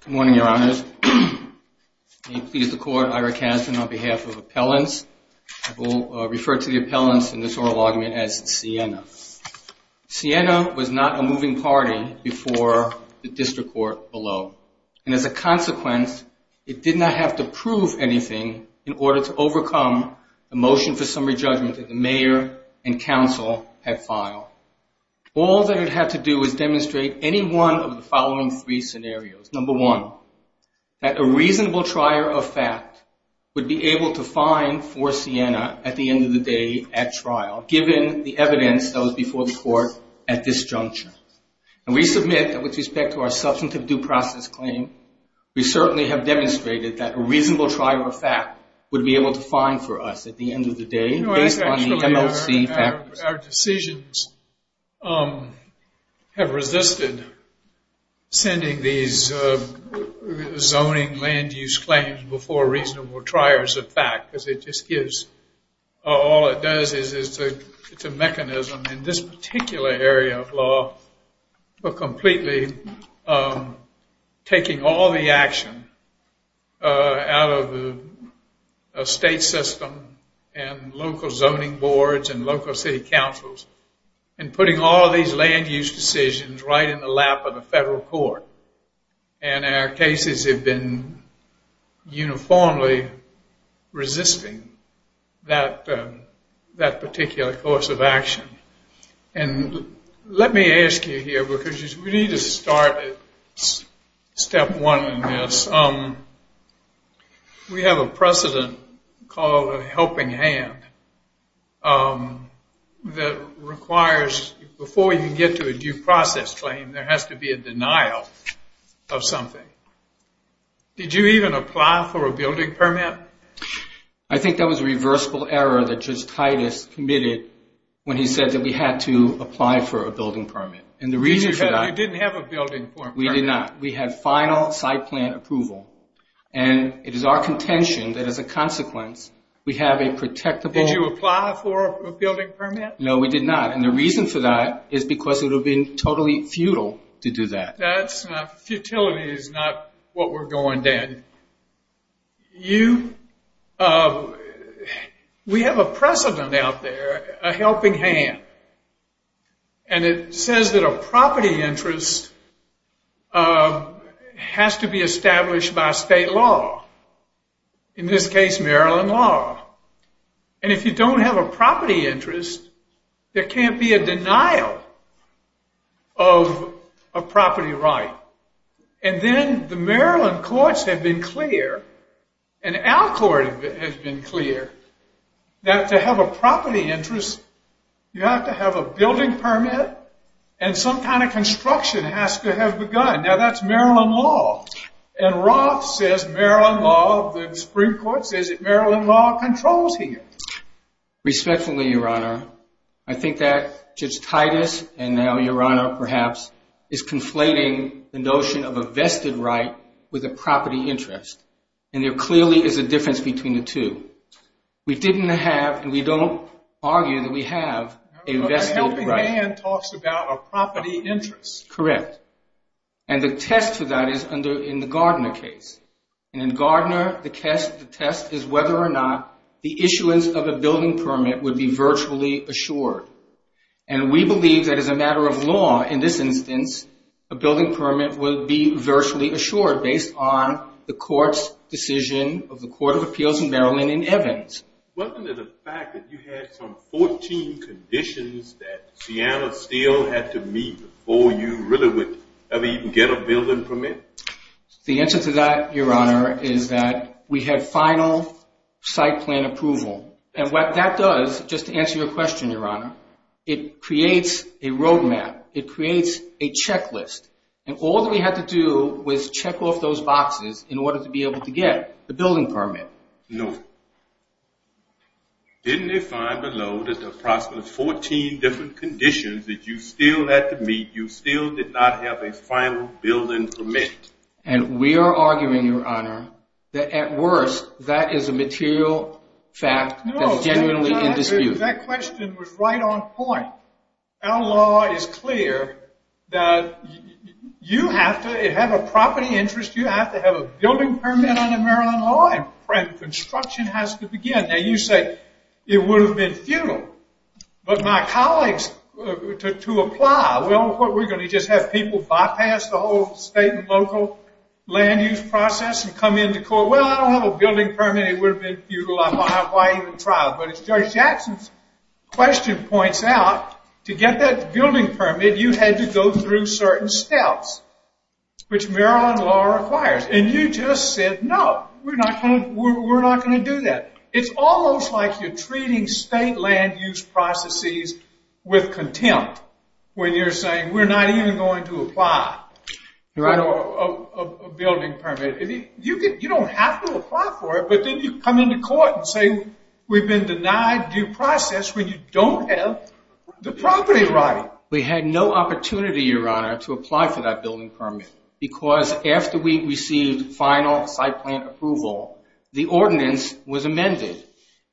Good morning, Your Honors. May it please the Court, Ira Kasdan, on behalf of Appellants, I will refer to the Appellants in this oral argument as Siena. Siena was not a moving party before the District Court below, and as a consequence, it did not have to prove anything in order to overcome the motion for summary judgment that the Mayor and Council had filed. All that it had to do was demonstrate any one of the following three scenarios. Number one, that a reasonable trier of fact would be able to find for Siena at the end of the day at trial, given the evidence that was before the Court at this juncture. And we submit that with respect to our substantive due process claim, we certainly have demonstrated that a reasonable trier of fact would be able to find for us at the end of the day based on the MLC factors. Our decisions have resisted sending these zoning land use claims before reasonable triers of fact, because it just gives, all it does is, it's a mechanism in this particular area of law, for completely taking all the action out of the state system and local zoning boards and local city councils and putting all these land use decisions right in the lap of the federal court. And our cases have been uniformly resisting that particular course of action. And let me ask you here, because we need to start at step one in this. We have a precedent called a helping hand that requires, before you can get to a due process claim, there has to be a denial of something. Did you even apply for a building permit? I think that was a reversible error that Judge Titus committed when he said that we had to apply for a building permit. And the reason for that... You didn't have a building permit. We did not. We had final site plan approval. And it is our contention that as a consequence, we have a protectable... Did you apply for a building permit? No, we did not. And the reason for that is because it would have been totally futile to do that. Futility is not what we're going to end. We have a precedent out there, a helping hand. And it says that a property interest has to be established by state law, in this case Maryland law. And if you don't have a property interest, there can't be a denial of a property right. And then the Maryland courts have been clear, and our court has been clear, that to have a property interest, you have to have a building permit, and some kind of construction has to have begun. Now that's Maryland law. And Roth says Maryland law, the Supreme Court says that Maryland law controls here. Respectfully, Your Honor, I think that Judge Titus, and now Your Honor perhaps, is conflating the notion of a vested right with a property interest. And there clearly is a difference between the two. We didn't have, and we don't argue that we have, a vested right. A helping hand talks about a property interest. Correct. And the test for that is in the Gardner case. And in Gardner, the test is whether or not the issuance of a building permit would be virtually assured. And we believe that as a matter of law, in this instance, a building permit would be virtually assured based on the court's decision of the Court of Appeals in Maryland in Evans. Wasn't it a fact that you had some 14 conditions that Seattle still had to meet before you really would ever even get a building permit? The answer to that, Your Honor, is that we had final site plan approval. And what that does, just to answer your question, Your Honor, it creates a roadmap. It creates a checklist. And all that we had to do was check off those boxes in order to be able to get the building permit. No. Didn't they find below that there are approximately 14 different conditions that you still had to meet, you still did not have a final building permit? And we are arguing, Your Honor, that at worst, that is a material fact that's genuinely in dispute. That question was right on point. Our law is clear that you have to have a property interest, you have to have a building permit under Maryland law, and construction has to begin. Now you say, it would have been futile. But my colleagues, to apply, we're going to just have people bypass the whole state and local land use process and come into court. Well, I don't have a building permit. It would have been futile. Why even try it? But as Judge Jackson's question points out, to get that building permit, you had to go through certain steps, which Maryland law requires. And you just said, no, we're not going to do that. It's almost like you're treating state land use processes with contempt when you're saying we're not even going to apply for a building permit. You don't have to apply for it, but then you come into court and say we've been denied due process when you don't have the property right. We had no opportunity, Your Honor, to apply for that building permit. Because after we received final site plan approval, the ordinance was amended.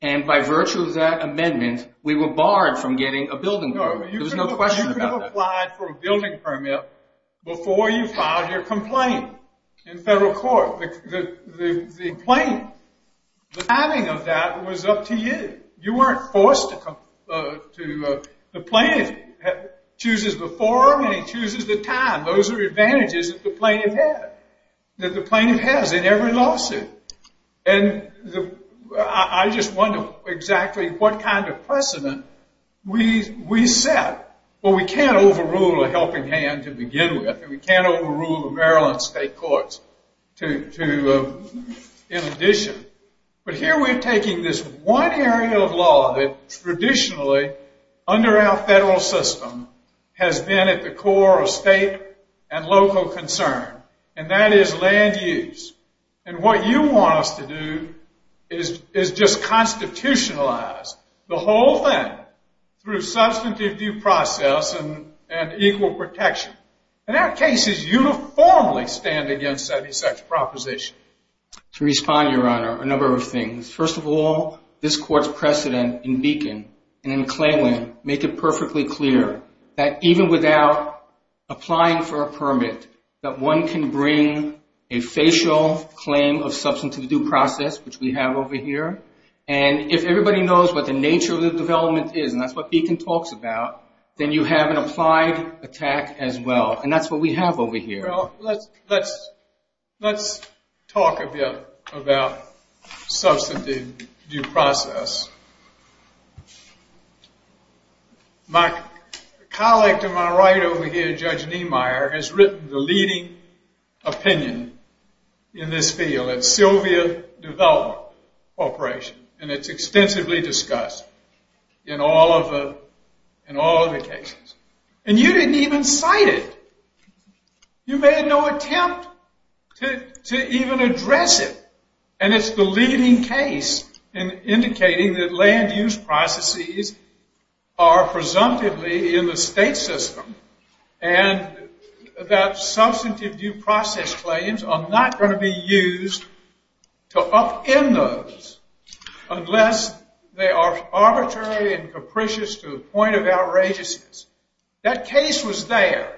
And by virtue of that amendment, we were barred from getting a building permit. You could have applied for a building permit before you filed your complaint in federal court. The plaintiff, the timing of that was up to you. You weren't forced to. The plaintiff chooses the form and he chooses the time. Those are advantages that the plaintiff has in every lawsuit. And I just wonder exactly what kind of precedent we set. Well, we can't overrule a helping hand to begin with. And we can't overrule the Maryland state courts in addition. But here we're taking this one area of law that traditionally, under our federal system, has been at the core of state and local concern. And that is land use. And what you want us to do is just constitutionalize the whole thing through substantive due process and equal protection. And our cases uniformly stand against any such proposition. To respond, Your Honor, a number of things. First of all, this court's precedent in Beacon and in Cleveland make it perfectly clear that even without applying for a permit, that one can bring a facial claim of substantive due process, which we have over here. And if everybody knows what the nature of the development is, and that's what Beacon talks about, then you have an applied attack as well. And that's what we have over here. Well, let's talk a bit about substantive due process. My colleague to my right over here, Judge Niemeyer, has written the leading opinion in this field at Sylvia Development Corporation. And it's extensively discussed in all of the cases. And you didn't even cite it. You made no attempt to even address it. And it's the leading case in indicating that land use processes are presumptively in the state system. And that substantive due process claims are not going to be used to upend those unless they are arbitrary and capricious to the point of outrageousness. That case was there.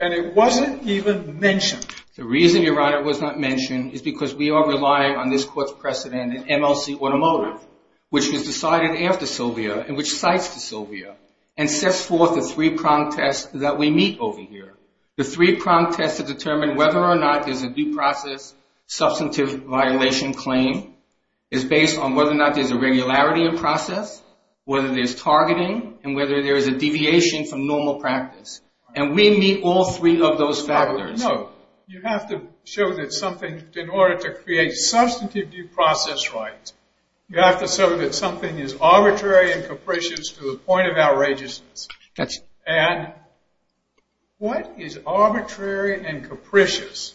And it wasn't even mentioned. The reason, Your Honor, it was not mentioned is because we are relying on this court's precedent in MLC Automotive, which was decided after Sylvia and which cites Sylvia and sets forth the three-pronged test that we meet over here. The three-pronged test to determine whether or not there's a due process substantive violation claim is based on whether or not there's a regularity in process, whether there's targeting, and whether there's a deviation from normal practice. And we meet all three of those factors. You have to show that something, in order to create substantive due process rights, you have to show that something is arbitrary and capricious to the point of outrageousness. And what is arbitrary and capricious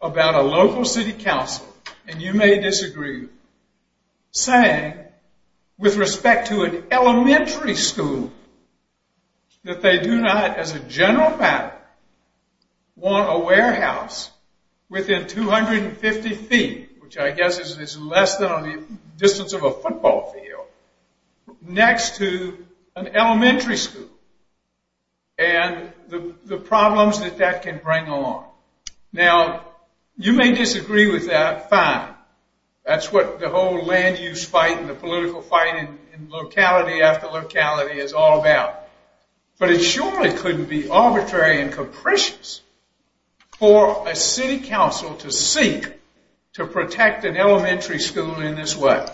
about a local city council, and you may disagree, saying, with respect to an elementary school, that they do not, as a general matter, want a warehouse within 250 feet, which I guess is less than on the distance of a football field, next to an elementary school, and the problems that that can bring along. Now, you may disagree with that, fine. That's what the whole land use fight and the political fight in locality after locality is all about. But it surely couldn't be arbitrary and capricious for a city council to seek to protect an elementary school in this way.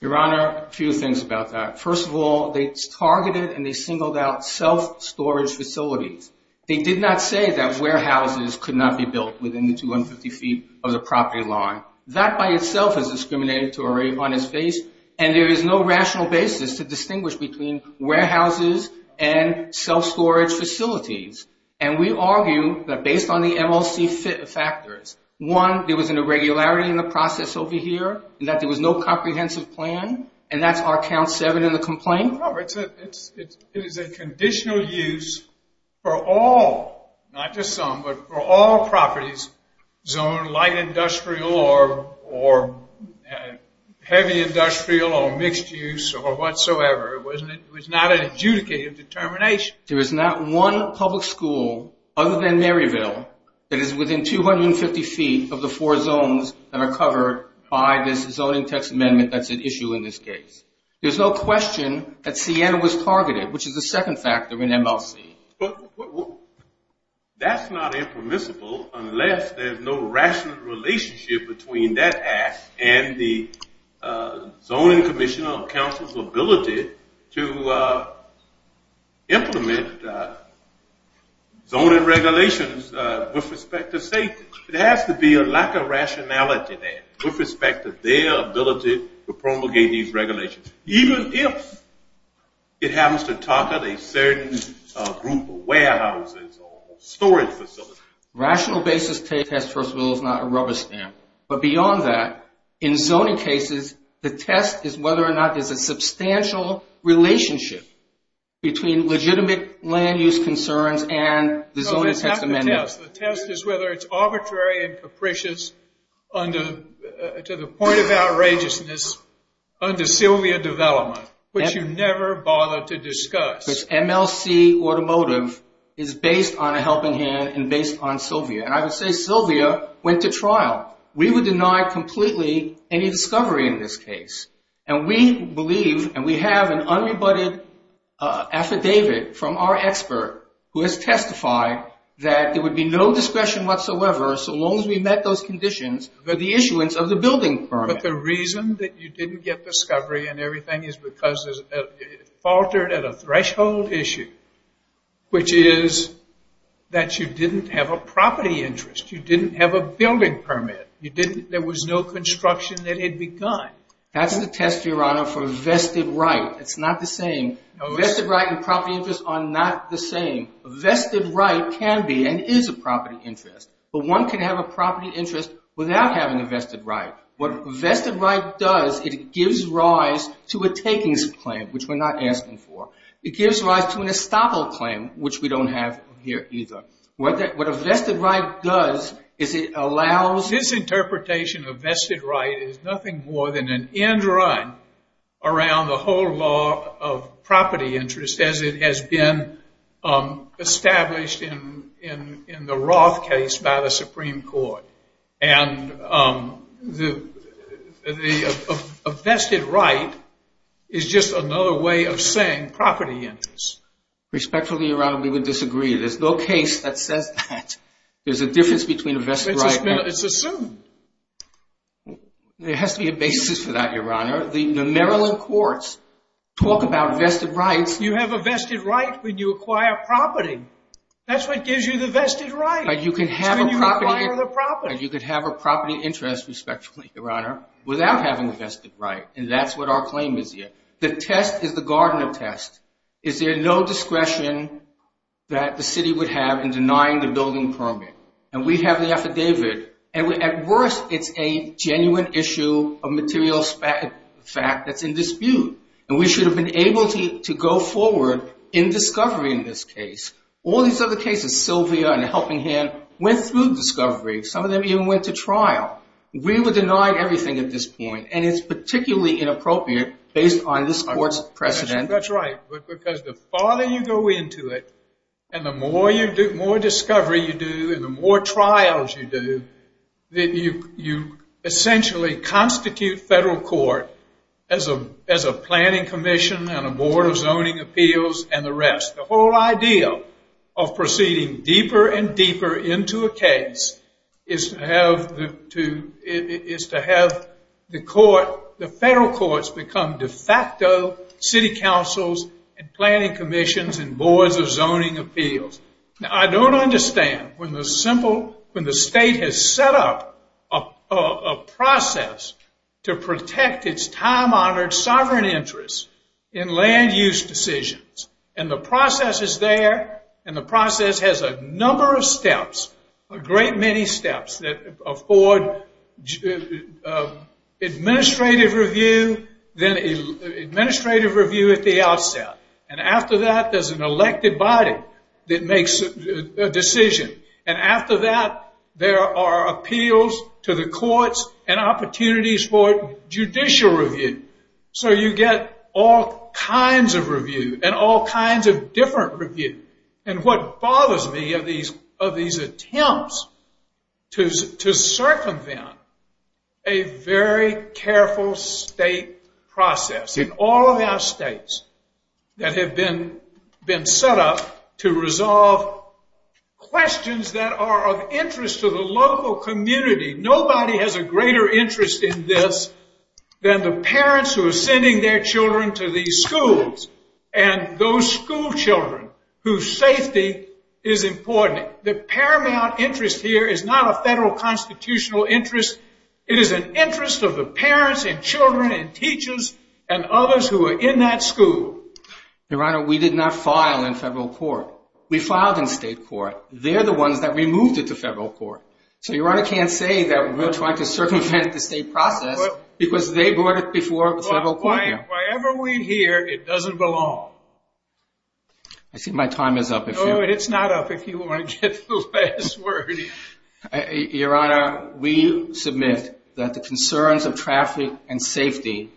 Your Honor, a few things about that. First of all, they targeted and they singled out self-storage facilities. They did not say that warehouses could not be built within the 250 feet of the property line. That by itself is discriminatory on its face, and there is no rational basis to distinguish between warehouses and self-storage facilities. And we argue that based on the MLC factors, one, there was an irregularity in the process over here, that there was no comprehensive plan, and that's our count seven in the complaint. It is a conditional use for all, not just some, but for all properties zoned light industrial or heavy industrial or mixed use or whatsoever. It was not an adjudicative determination. There is not one public school other than Maryville that is within 250 feet of the four zones that are covered by this zoning text amendment that's at issue in this case. There's no question that CN was targeted, which is the second factor in MLC. But that's not impermissible unless there's no rational relationship between that act and the zoning commission or council's ability to implement zoning regulations with respect to safety. There has to be a lack of rationality there with respect to their ability to promulgate these regulations, even if it happens to target a certain group of warehouses or storage facilities. Rational basis to test, first of all, is not a rubber stamp. But beyond that, in zoning cases, the test is whether or not there's a substantial relationship between legitimate land use concerns and the zoning text amendment. Yes, the test is whether it's arbitrary and capricious to the point of outrageousness under Sylvia development, which you never bothered to discuss. This MLC automotive is based on a helping hand and based on Sylvia. And I would say Sylvia went to trial. We would deny completely any discovery in this case. And we believe and we have an unrebutted affidavit from our expert who has testified that there would be no discretion whatsoever, so long as we met those conditions for the issuance of the building permit. But the reason that you didn't get discovery and everything is because it faltered at a threshold issue, which is that you didn't have a property interest. You didn't have a building permit. There was no construction that had begun. That's the test, Your Honor, for vested right. It's not the same. Vested right and property interest are not the same. Vested right can be and is a property interest. But one can have a property interest without having a vested right. What a vested right does, it gives rise to a takings claim, which we're not asking for. It gives rise to an estoppel claim, which we don't have here either. What a vested right does is it allows- This interpretation of vested right is nothing more than an end run around the whole law of property interest as it has been established in the Roth case by the Supreme Court. And a vested right is just another way of saying property interest. Respectfully, Your Honor, we would disagree. There's no case that says that. There's a difference between a vested right and- It's assumed. There has to be a basis for that, Your Honor. The Maryland courts talk about vested rights. You have a vested right when you acquire property. That's what gives you the vested right. You can have a property- It's when you acquire the property. You could have a property interest, respectfully, Your Honor, without having a vested right. And that's what our claim is here. The test is the Gardner test. Is there no discretion that the city would have in denying the building permit? And we have the affidavit. And at worst, it's a genuine issue of material fact that's in dispute. And we should have been able to go forward in discovery in this case. All these other cases, Sylvia and Helping Hand, went through discovery. Some of them even went to trial. We were denied everything at this point, and it's particularly inappropriate based on this court's precedent. That's right. Because the farther you go into it and the more discovery you do and the more trials you do, you essentially constitute federal court as a planning commission and a board of zoning appeals and the rest. The whole idea of proceeding deeper and deeper into a case is to have the federal courts become de facto city councils and planning commissions and boards of zoning appeals. Now, I don't understand when the state has set up a process to protect its time-honored sovereign interests in land use decisions. And the process is there, and the process has a number of steps, a great many steps, that afford administrative review at the outset. And after that, there's an elected body that makes a decision. And after that, there are appeals to the courts and opportunities for judicial review. So you get all kinds of review and all kinds of different review. And what bothers me of these attempts to circumvent a very careful state process. In all of our states that have been set up to resolve questions that are of interest to the local community, nobody has a greater interest in this than the parents who are sending their children to these schools and those school children whose safety is important. The paramount interest here is not a federal constitutional interest. It is an interest of the parents and children and teachers and others who are in that school. Your Honor, we did not file in federal court. We filed in state court. They're the ones that removed it to federal court. So Your Honor can't say that we're trying to circumvent the state process because they brought it before the federal court here. Well, why ever we hear it doesn't belong. I think my time is up. No, it's not up if you want to get to the last word. Your Honor, we submit that the concerns of traffic and safety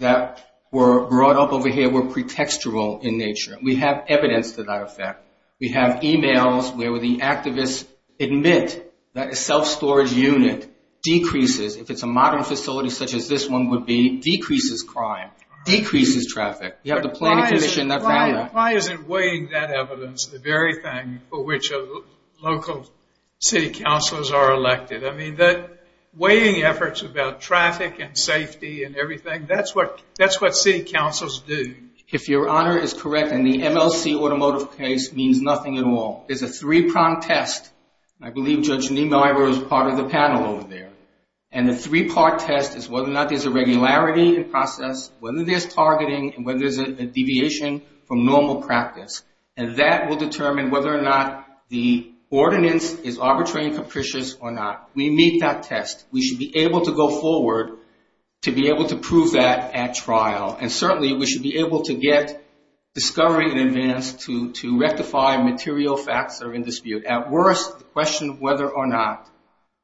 that were brought up over here were pretextual in nature. We have evidence to that effect. We have e-mails where the activists admit that a self-storage unit decreases, if it's a modern facility such as this one would be, decreases crime, decreases traffic. You have the planning commission that found that. Why isn't weighing that evidence the very thing for which local city councils are elected? I mean, the weighing efforts about traffic and safety and everything, that's what city councils do. If Your Honor is correct, and the MLC automotive case means nothing at all, there's a three-pronged test. I believe Judge Niemeyer is part of the panel over there. And the three-part test is whether or not there's a regularity in process, whether there's targeting, and whether there's a deviation from normal practice. And that will determine whether or not the ordinance is arbitrary and capricious or not. We meet that test. We should be able to go forward to be able to prove that at trial. And certainly we should be able to get discovery in advance to rectify material facts that are in dispute. At worst, the question of whether or not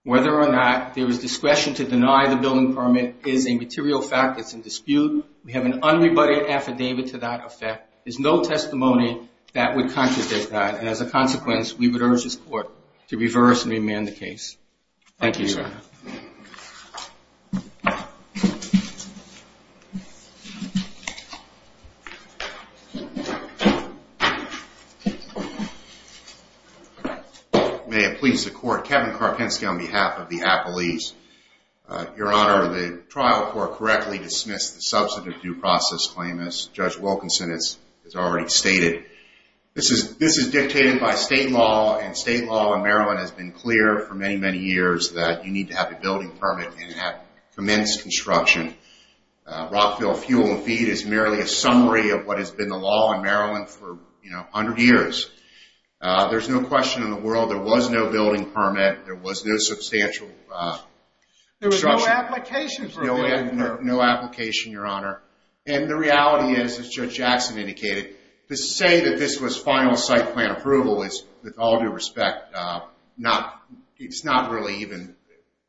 there is discretion to deny the building permit is a material fact that's in dispute. We have an unrebutted affidavit to that effect. There's no testimony that would contradict that. And as a consequence, we would urge this Court to reverse and remand the case. Thank you, Your Honor. Thank you. May it please the Court, Kevin Karpinski on behalf of the appellees. Your Honor, the trial court correctly dismissed the substantive due process claim as Judge Wilkinson has already stated. This is dictated by state law, and state law in Maryland has been clear for many, many years that you need to have a building permit and have commenced construction. Rockville Fuel and Feed is merely a summary of what has been the law in Maryland for, you know, 100 years. There's no question in the world there was no building permit. There was no substantial construction. There was no application for a building permit. No application, Your Honor. And the reality is, as Judge Jackson indicated, to say that this was final site plan approval is, with all due respect, it's not really even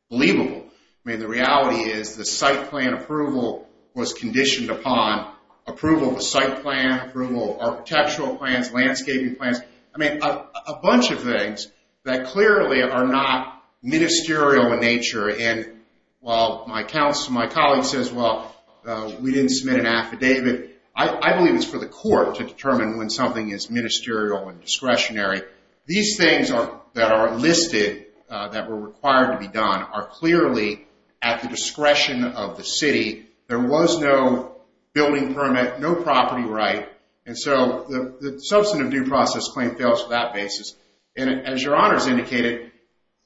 believable. I mean, the reality is the site plan approval was conditioned upon approval of a site plan, approval of architectural plans, landscaping plans. I mean, a bunch of things that clearly are not ministerial in nature. And while my colleague says, well, we didn't submit an affidavit, I believe it's for the court to determine when something is ministerial and discretionary. These things that are listed that were required to be done are clearly at the discretion of the city. There was no building permit, no property right. And so the substantive due process claim fails for that basis. And as Your Honor has indicated,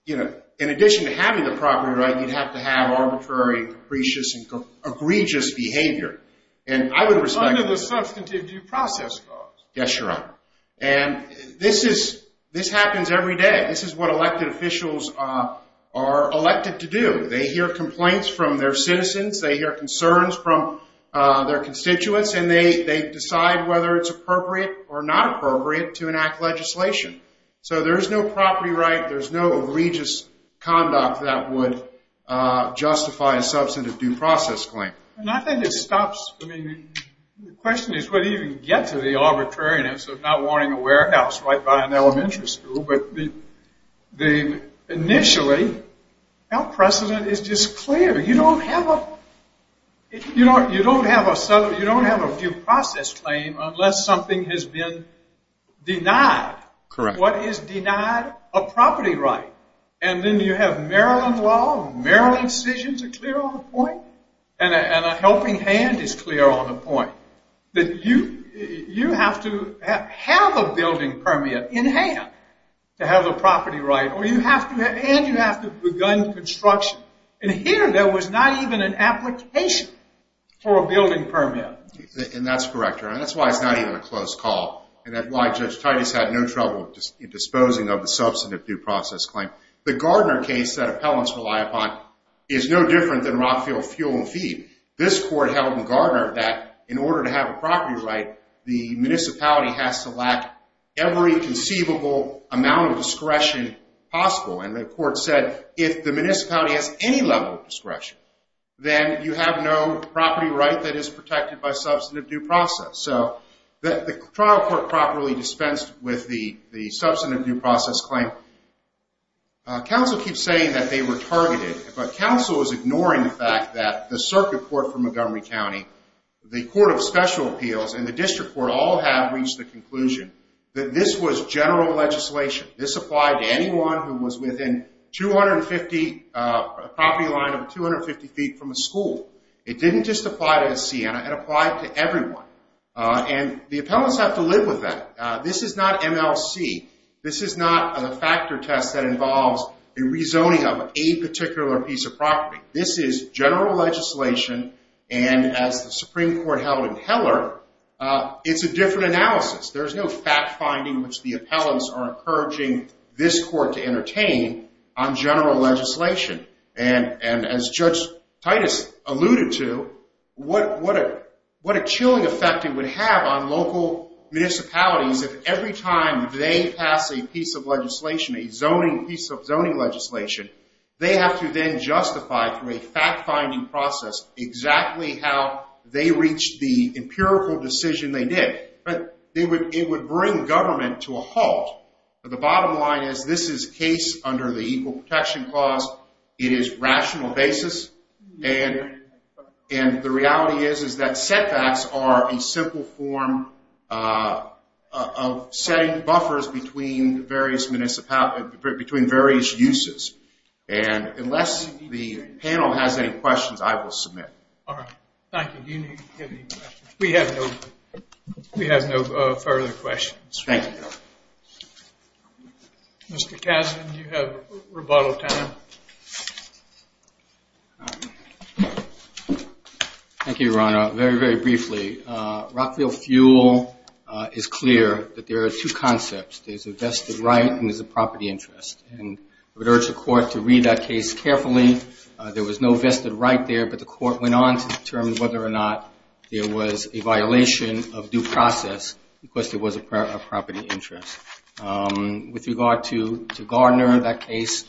in addition to having the property right, you'd have to have arbitrary, capricious, and egregious behavior. And I would respect that. Under the substantive due process clause. Yes, Your Honor. And this happens every day. This is what elected officials are elected to do. They hear complaints from their citizens. They hear concerns from their constituents. And they decide whether it's appropriate or not appropriate to enact legislation. So there's no property right. There's no egregious conduct that would justify a substantive due process claim. And I think it stops. I mean, the question is whether you can get to the arbitrariness of not wanting a warehouse right by an elementary school. But initially, precedent is just clear. You don't have a due process claim unless something has been denied. Correct. What is denied? A property right. And then you have Maryland law. Maryland decisions are clear on the point. And a helping hand is clear on the point. That you have to have a building permit in hand to have a property right. And you have to have begun construction. And here there was not even an application for a building permit. And that's correct, Your Honor. That's why it's not even a close call. And that's why Judge Titus had no trouble disposing of the substantive due process claim. The Gardner case that appellants rely upon is no different than rock, field, fuel, and feed. This court held in Gardner that in order to have a property right, the municipality has to lack every conceivable amount of discretion possible. And the court said if the municipality has any level of discretion, then you have no property right that is protected by substantive due process. So the trial court properly dispensed with the substantive due process claim. Counsel keeps saying that they were targeted. But counsel is ignoring the fact that the circuit court for Montgomery County, the court of special appeals, and the district court all have reached the conclusion that this was general legislation. This applied to anyone who was within a property line of 250 feet from a school. It didn't just apply to Siena. It applied to everyone. And the appellants have to live with that. This is not MLC. This is not a factor test that involves a rezoning of a particular piece of property. This is general legislation. And as the Supreme Court held in Heller, it's a different analysis. There's no fact-finding which the appellants are encouraging this court to entertain on general legislation. And as Judge Titus alluded to, what a chilling effect it would have on local municipalities if every time they pass a piece of legislation, a zoning piece of zoning legislation, they have to then justify through a fact-finding process exactly how they reached the empirical decision they did. But it would bring government to a halt. The bottom line is this is a case under the Equal Protection Clause. It is rational basis. And the reality is that setbacks are a simple form of setting buffers between various uses. And unless the panel has any questions, I will submit. All right. Thank you. We have no further questions. Thank you. Mr. Kasdan, you have rebuttal time. Thank you, Your Honor. Very, very briefly, Rockville Fuel is clear that there are two concepts. There's a vested right and there's a property interest. And I would urge the court to read that case carefully. There was no vested right there, but the court went on to determine whether or not there was a violation of due process because there was a property interest. With regard to Gardner, that case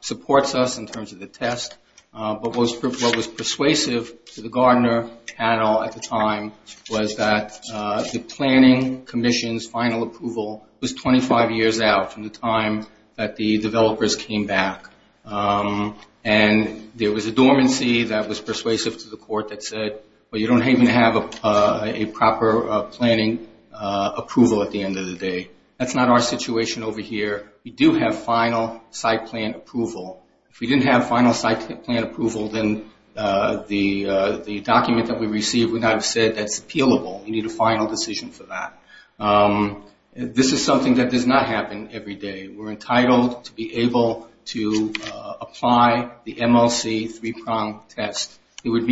supports us in terms of the test. But what was persuasive to the Gardner panel at the time was that the planning commission's final approval was 25 years out from the time that the developers came back. And there was a dormancy that was persuasive to the court that said, well, you don't even have a proper planning approval at the end of the day. That's not our situation over here. We do have final site plan approval. If we didn't have final site plan approval, then the document that we received would not have said that's appealable. We need a final decision for that. This is something that does not happen every day. We're entitled to be able to apply the MLC three-prong test. There would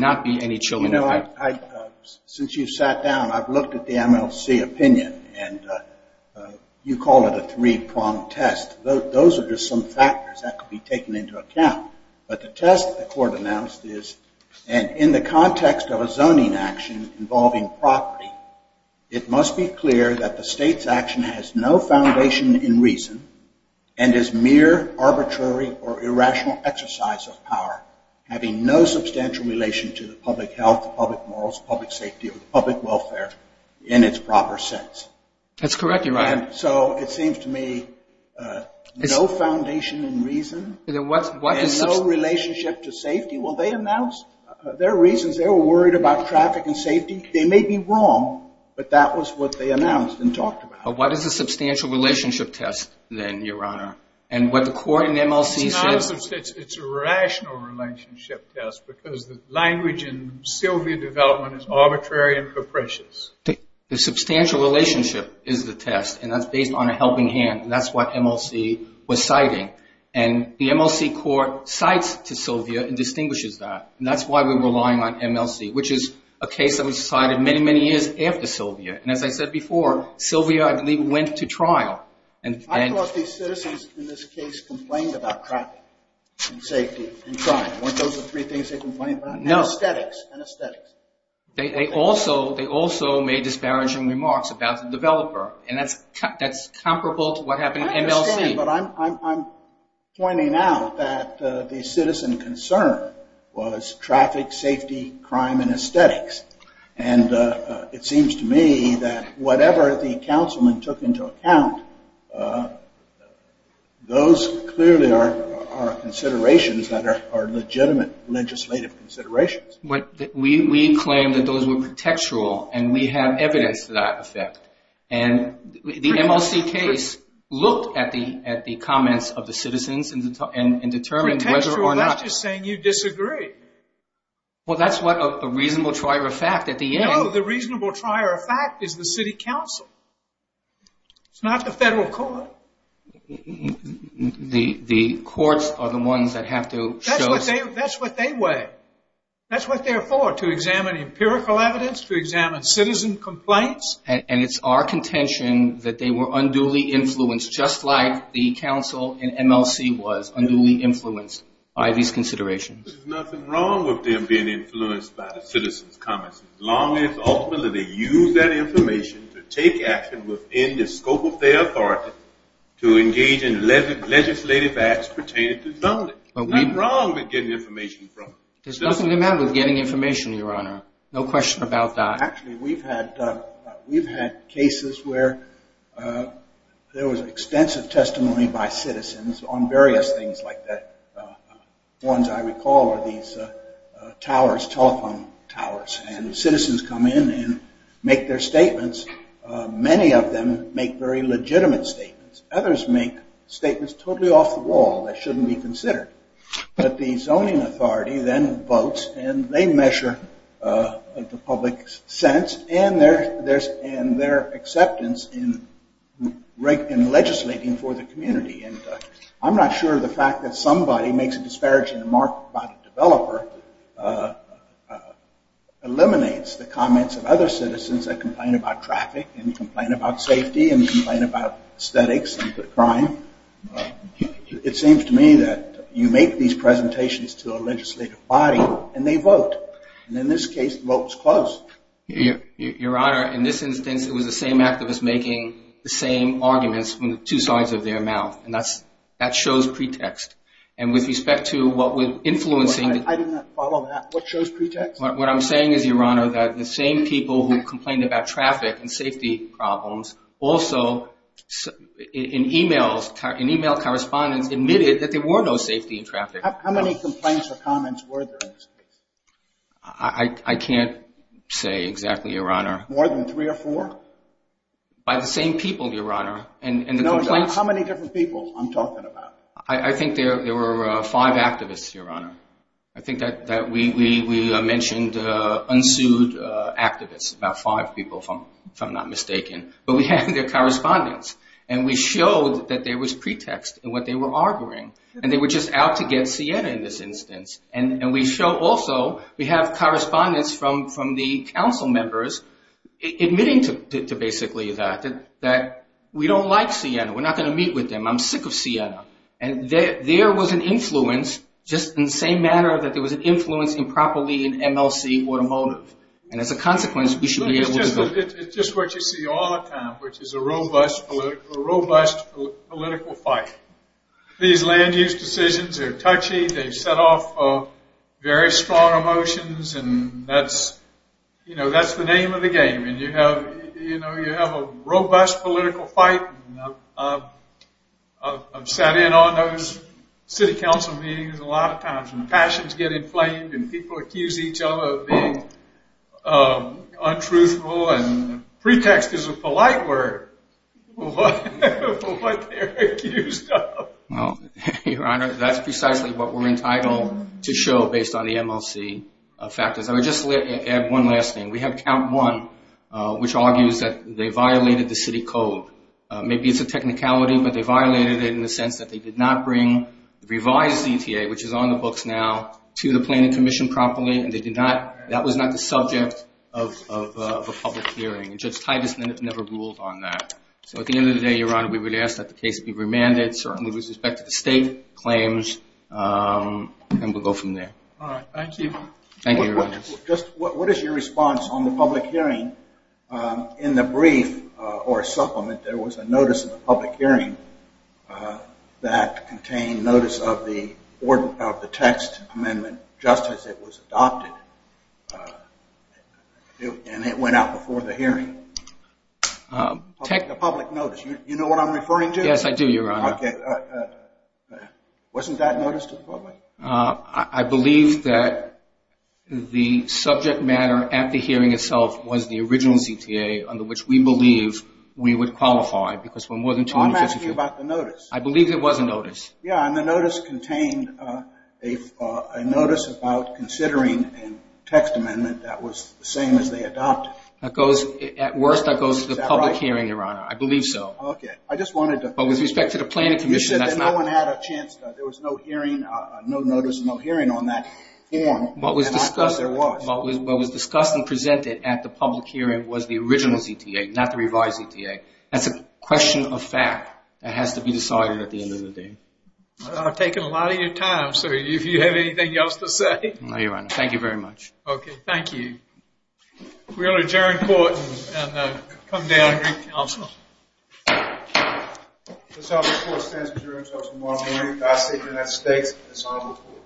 not be any children. Since you sat down, I've looked at the MLC opinion, and you call it a three-prong test. Those are just some factors that could be taken into account. But the test the court announced is, and in the context of a zoning action involving property, it must be clear that the state's action has no foundation in reason and is mere arbitrary or irrational exercise of power, having no substantial relation to the public health, the public morals, public safety, or the public welfare in its proper sense. That's correct, Your Honor. So it seems to me no foundation in reason and no relationship to safety. Well, they announced their reasons. They were worried about traffic and safety. They may be wrong, but that was what they announced and talked about. What is a substantial relationship test, then, Your Honor? It's a rational relationship test because the language in Sylvia development is arbitrary and capricious. The substantial relationship is the test, and that's based on a helping hand, and that's what MLC was citing. And the MLC court cites to Sylvia and distinguishes that, and that's why we're relying on MLC, which is a case that was cited many, many years after Sylvia. And as I said before, Sylvia, I believe, went to trial. I thought these citizens in this case complained about traffic and safety and crime. Weren't those the three things they complained about? No. Aesthetics. Aesthetics. They also made disparaging remarks about the developer, and that's comparable to what happened in MLC. I understand, but I'm pointing out that the citizen concern was traffic, safety, crime, and aesthetics. And it seems to me that whatever the councilman took into account, those clearly are considerations that are legitimate legislative considerations. We claim that those were pretextual, and we have evidence to that effect. And the MLC case looked at the comments of the citizens and determined whether or not- Pretextual? That's just saying you disagree. Well, that's what a reasonable trier of fact at the end- No, the reasonable trier of fact is the city council. It's not the federal court. The courts are the ones that have to show- That's what they weigh. That's what they're for, to examine empirical evidence, to examine citizen complaints. And it's our contention that they were unduly influenced, just like the council in MLC was unduly influenced by these considerations. There's nothing wrong with them being influenced by the citizens' comments, as long as ultimately they use that information to take action within the scope of their authority to engage in legislative acts pertaining to zoning. There's nothing wrong with getting information from- There's nothing wrong with getting information, Your Honor. No question about that. Actually, we've had cases where there was extensive testimony by citizens on various things like that. Ones I recall are these towers, telephone towers, and citizens come in and make their statements. Many of them make very legitimate statements. Others make statements totally off the wall that shouldn't be considered. But the zoning authority then votes, and they measure the public's sense and their acceptance in legislating for the community. And I'm not sure the fact that somebody makes a disparaging remark about a developer eliminates the comments of other citizens that complain about traffic and complain about safety and complain about aesthetics and crime. It seems to me that you make these presentations to a legislative body, and they vote. And in this case, the vote is closed. Your Honor, in this instance, it was the same activist making the same arguments from the two sides of their mouth, and that shows pretext. And with respect to what we're influencing- I did not follow that. What shows pretext? What I'm saying is, Your Honor, that the same people who complained about traffic and safety problems also in e-mail correspondence admitted that there were no safety in traffic. How many complaints or comments were there in this case? I can't say exactly, Your Honor. More than three or four? By the same people, Your Honor. No, how many different people I'm talking about? I think there were five activists, Your Honor. I think that we mentioned unsued activists, about five people, if I'm not mistaken. But we had their correspondence, and we showed that there was pretext in what they were arguing. And they were just out to get Siena in this instance. And we show also we have correspondence from the council members admitting to basically that, that we don't like Siena, we're not going to meet with them, I'm sick of Siena. And there was an influence, just in the same manner that there was an influence improperly in MLC Automotive. And as a consequence, we should be able to go. It's just what you see all the time, which is a robust political fight. These land use decisions are touchy, they've set off very strong emotions, and that's the name of the game. And you have a robust political fight, and I've sat in on those city council meetings a lot of times, and passions get inflamed, and people accuse each other of being untruthful, and pretext is a polite word for what they're accused of. Well, Your Honor, that's precisely what we're entitled to show based on the MLC factors. I would just add one last thing. We have count one, which argues that they violated the city code. Maybe it's a technicality, but they violated it in the sense that they did not bring the revised ETA, which is on the books now, to the planning commission properly, and that was not the subject of a public hearing. And Judge Titus never ruled on that. So at the end of the day, Your Honor, we would ask that the case be remanded, certainly with respect to the state claims, and we'll go from there. All right, thank you. Thank you, Your Honor. Just what is your response on the public hearing? In the brief or supplement, there was a notice of a public hearing that contained notice of the text amendment just as it was adopted, and it went out before the hearing. The public notice, you know what I'm referring to? Yes, I do, Your Honor. Okay. Wasn't that notice to the public? I believe that the subject matter at the hearing itself was the original CTA under which we believe we would qualify because for more than two and a half years. I'm asking about the notice. I believe it was a notice. Yeah, and the notice contained a notice about considering a text amendment that was the same as they adopted. At worst, that goes to the public hearing, Your Honor. Is that right? I believe so. Okay. I just wanted to. But with respect to the planning commission, that's not. You said that no one had a chance. There was no hearing, no notice, no hearing on that form. What was discussed and presented at the public hearing was the original CTA, not the revised CTA. That's a question of fact that has to be decided at the end of the day. I've taken a lot of your time, so if you have anything else to say. No, Your Honor. Thank you very much. Okay, thank you. We will adjourn court and come down to council. This House report stands adjourned until tomorrow morning. God save the United States. This House report.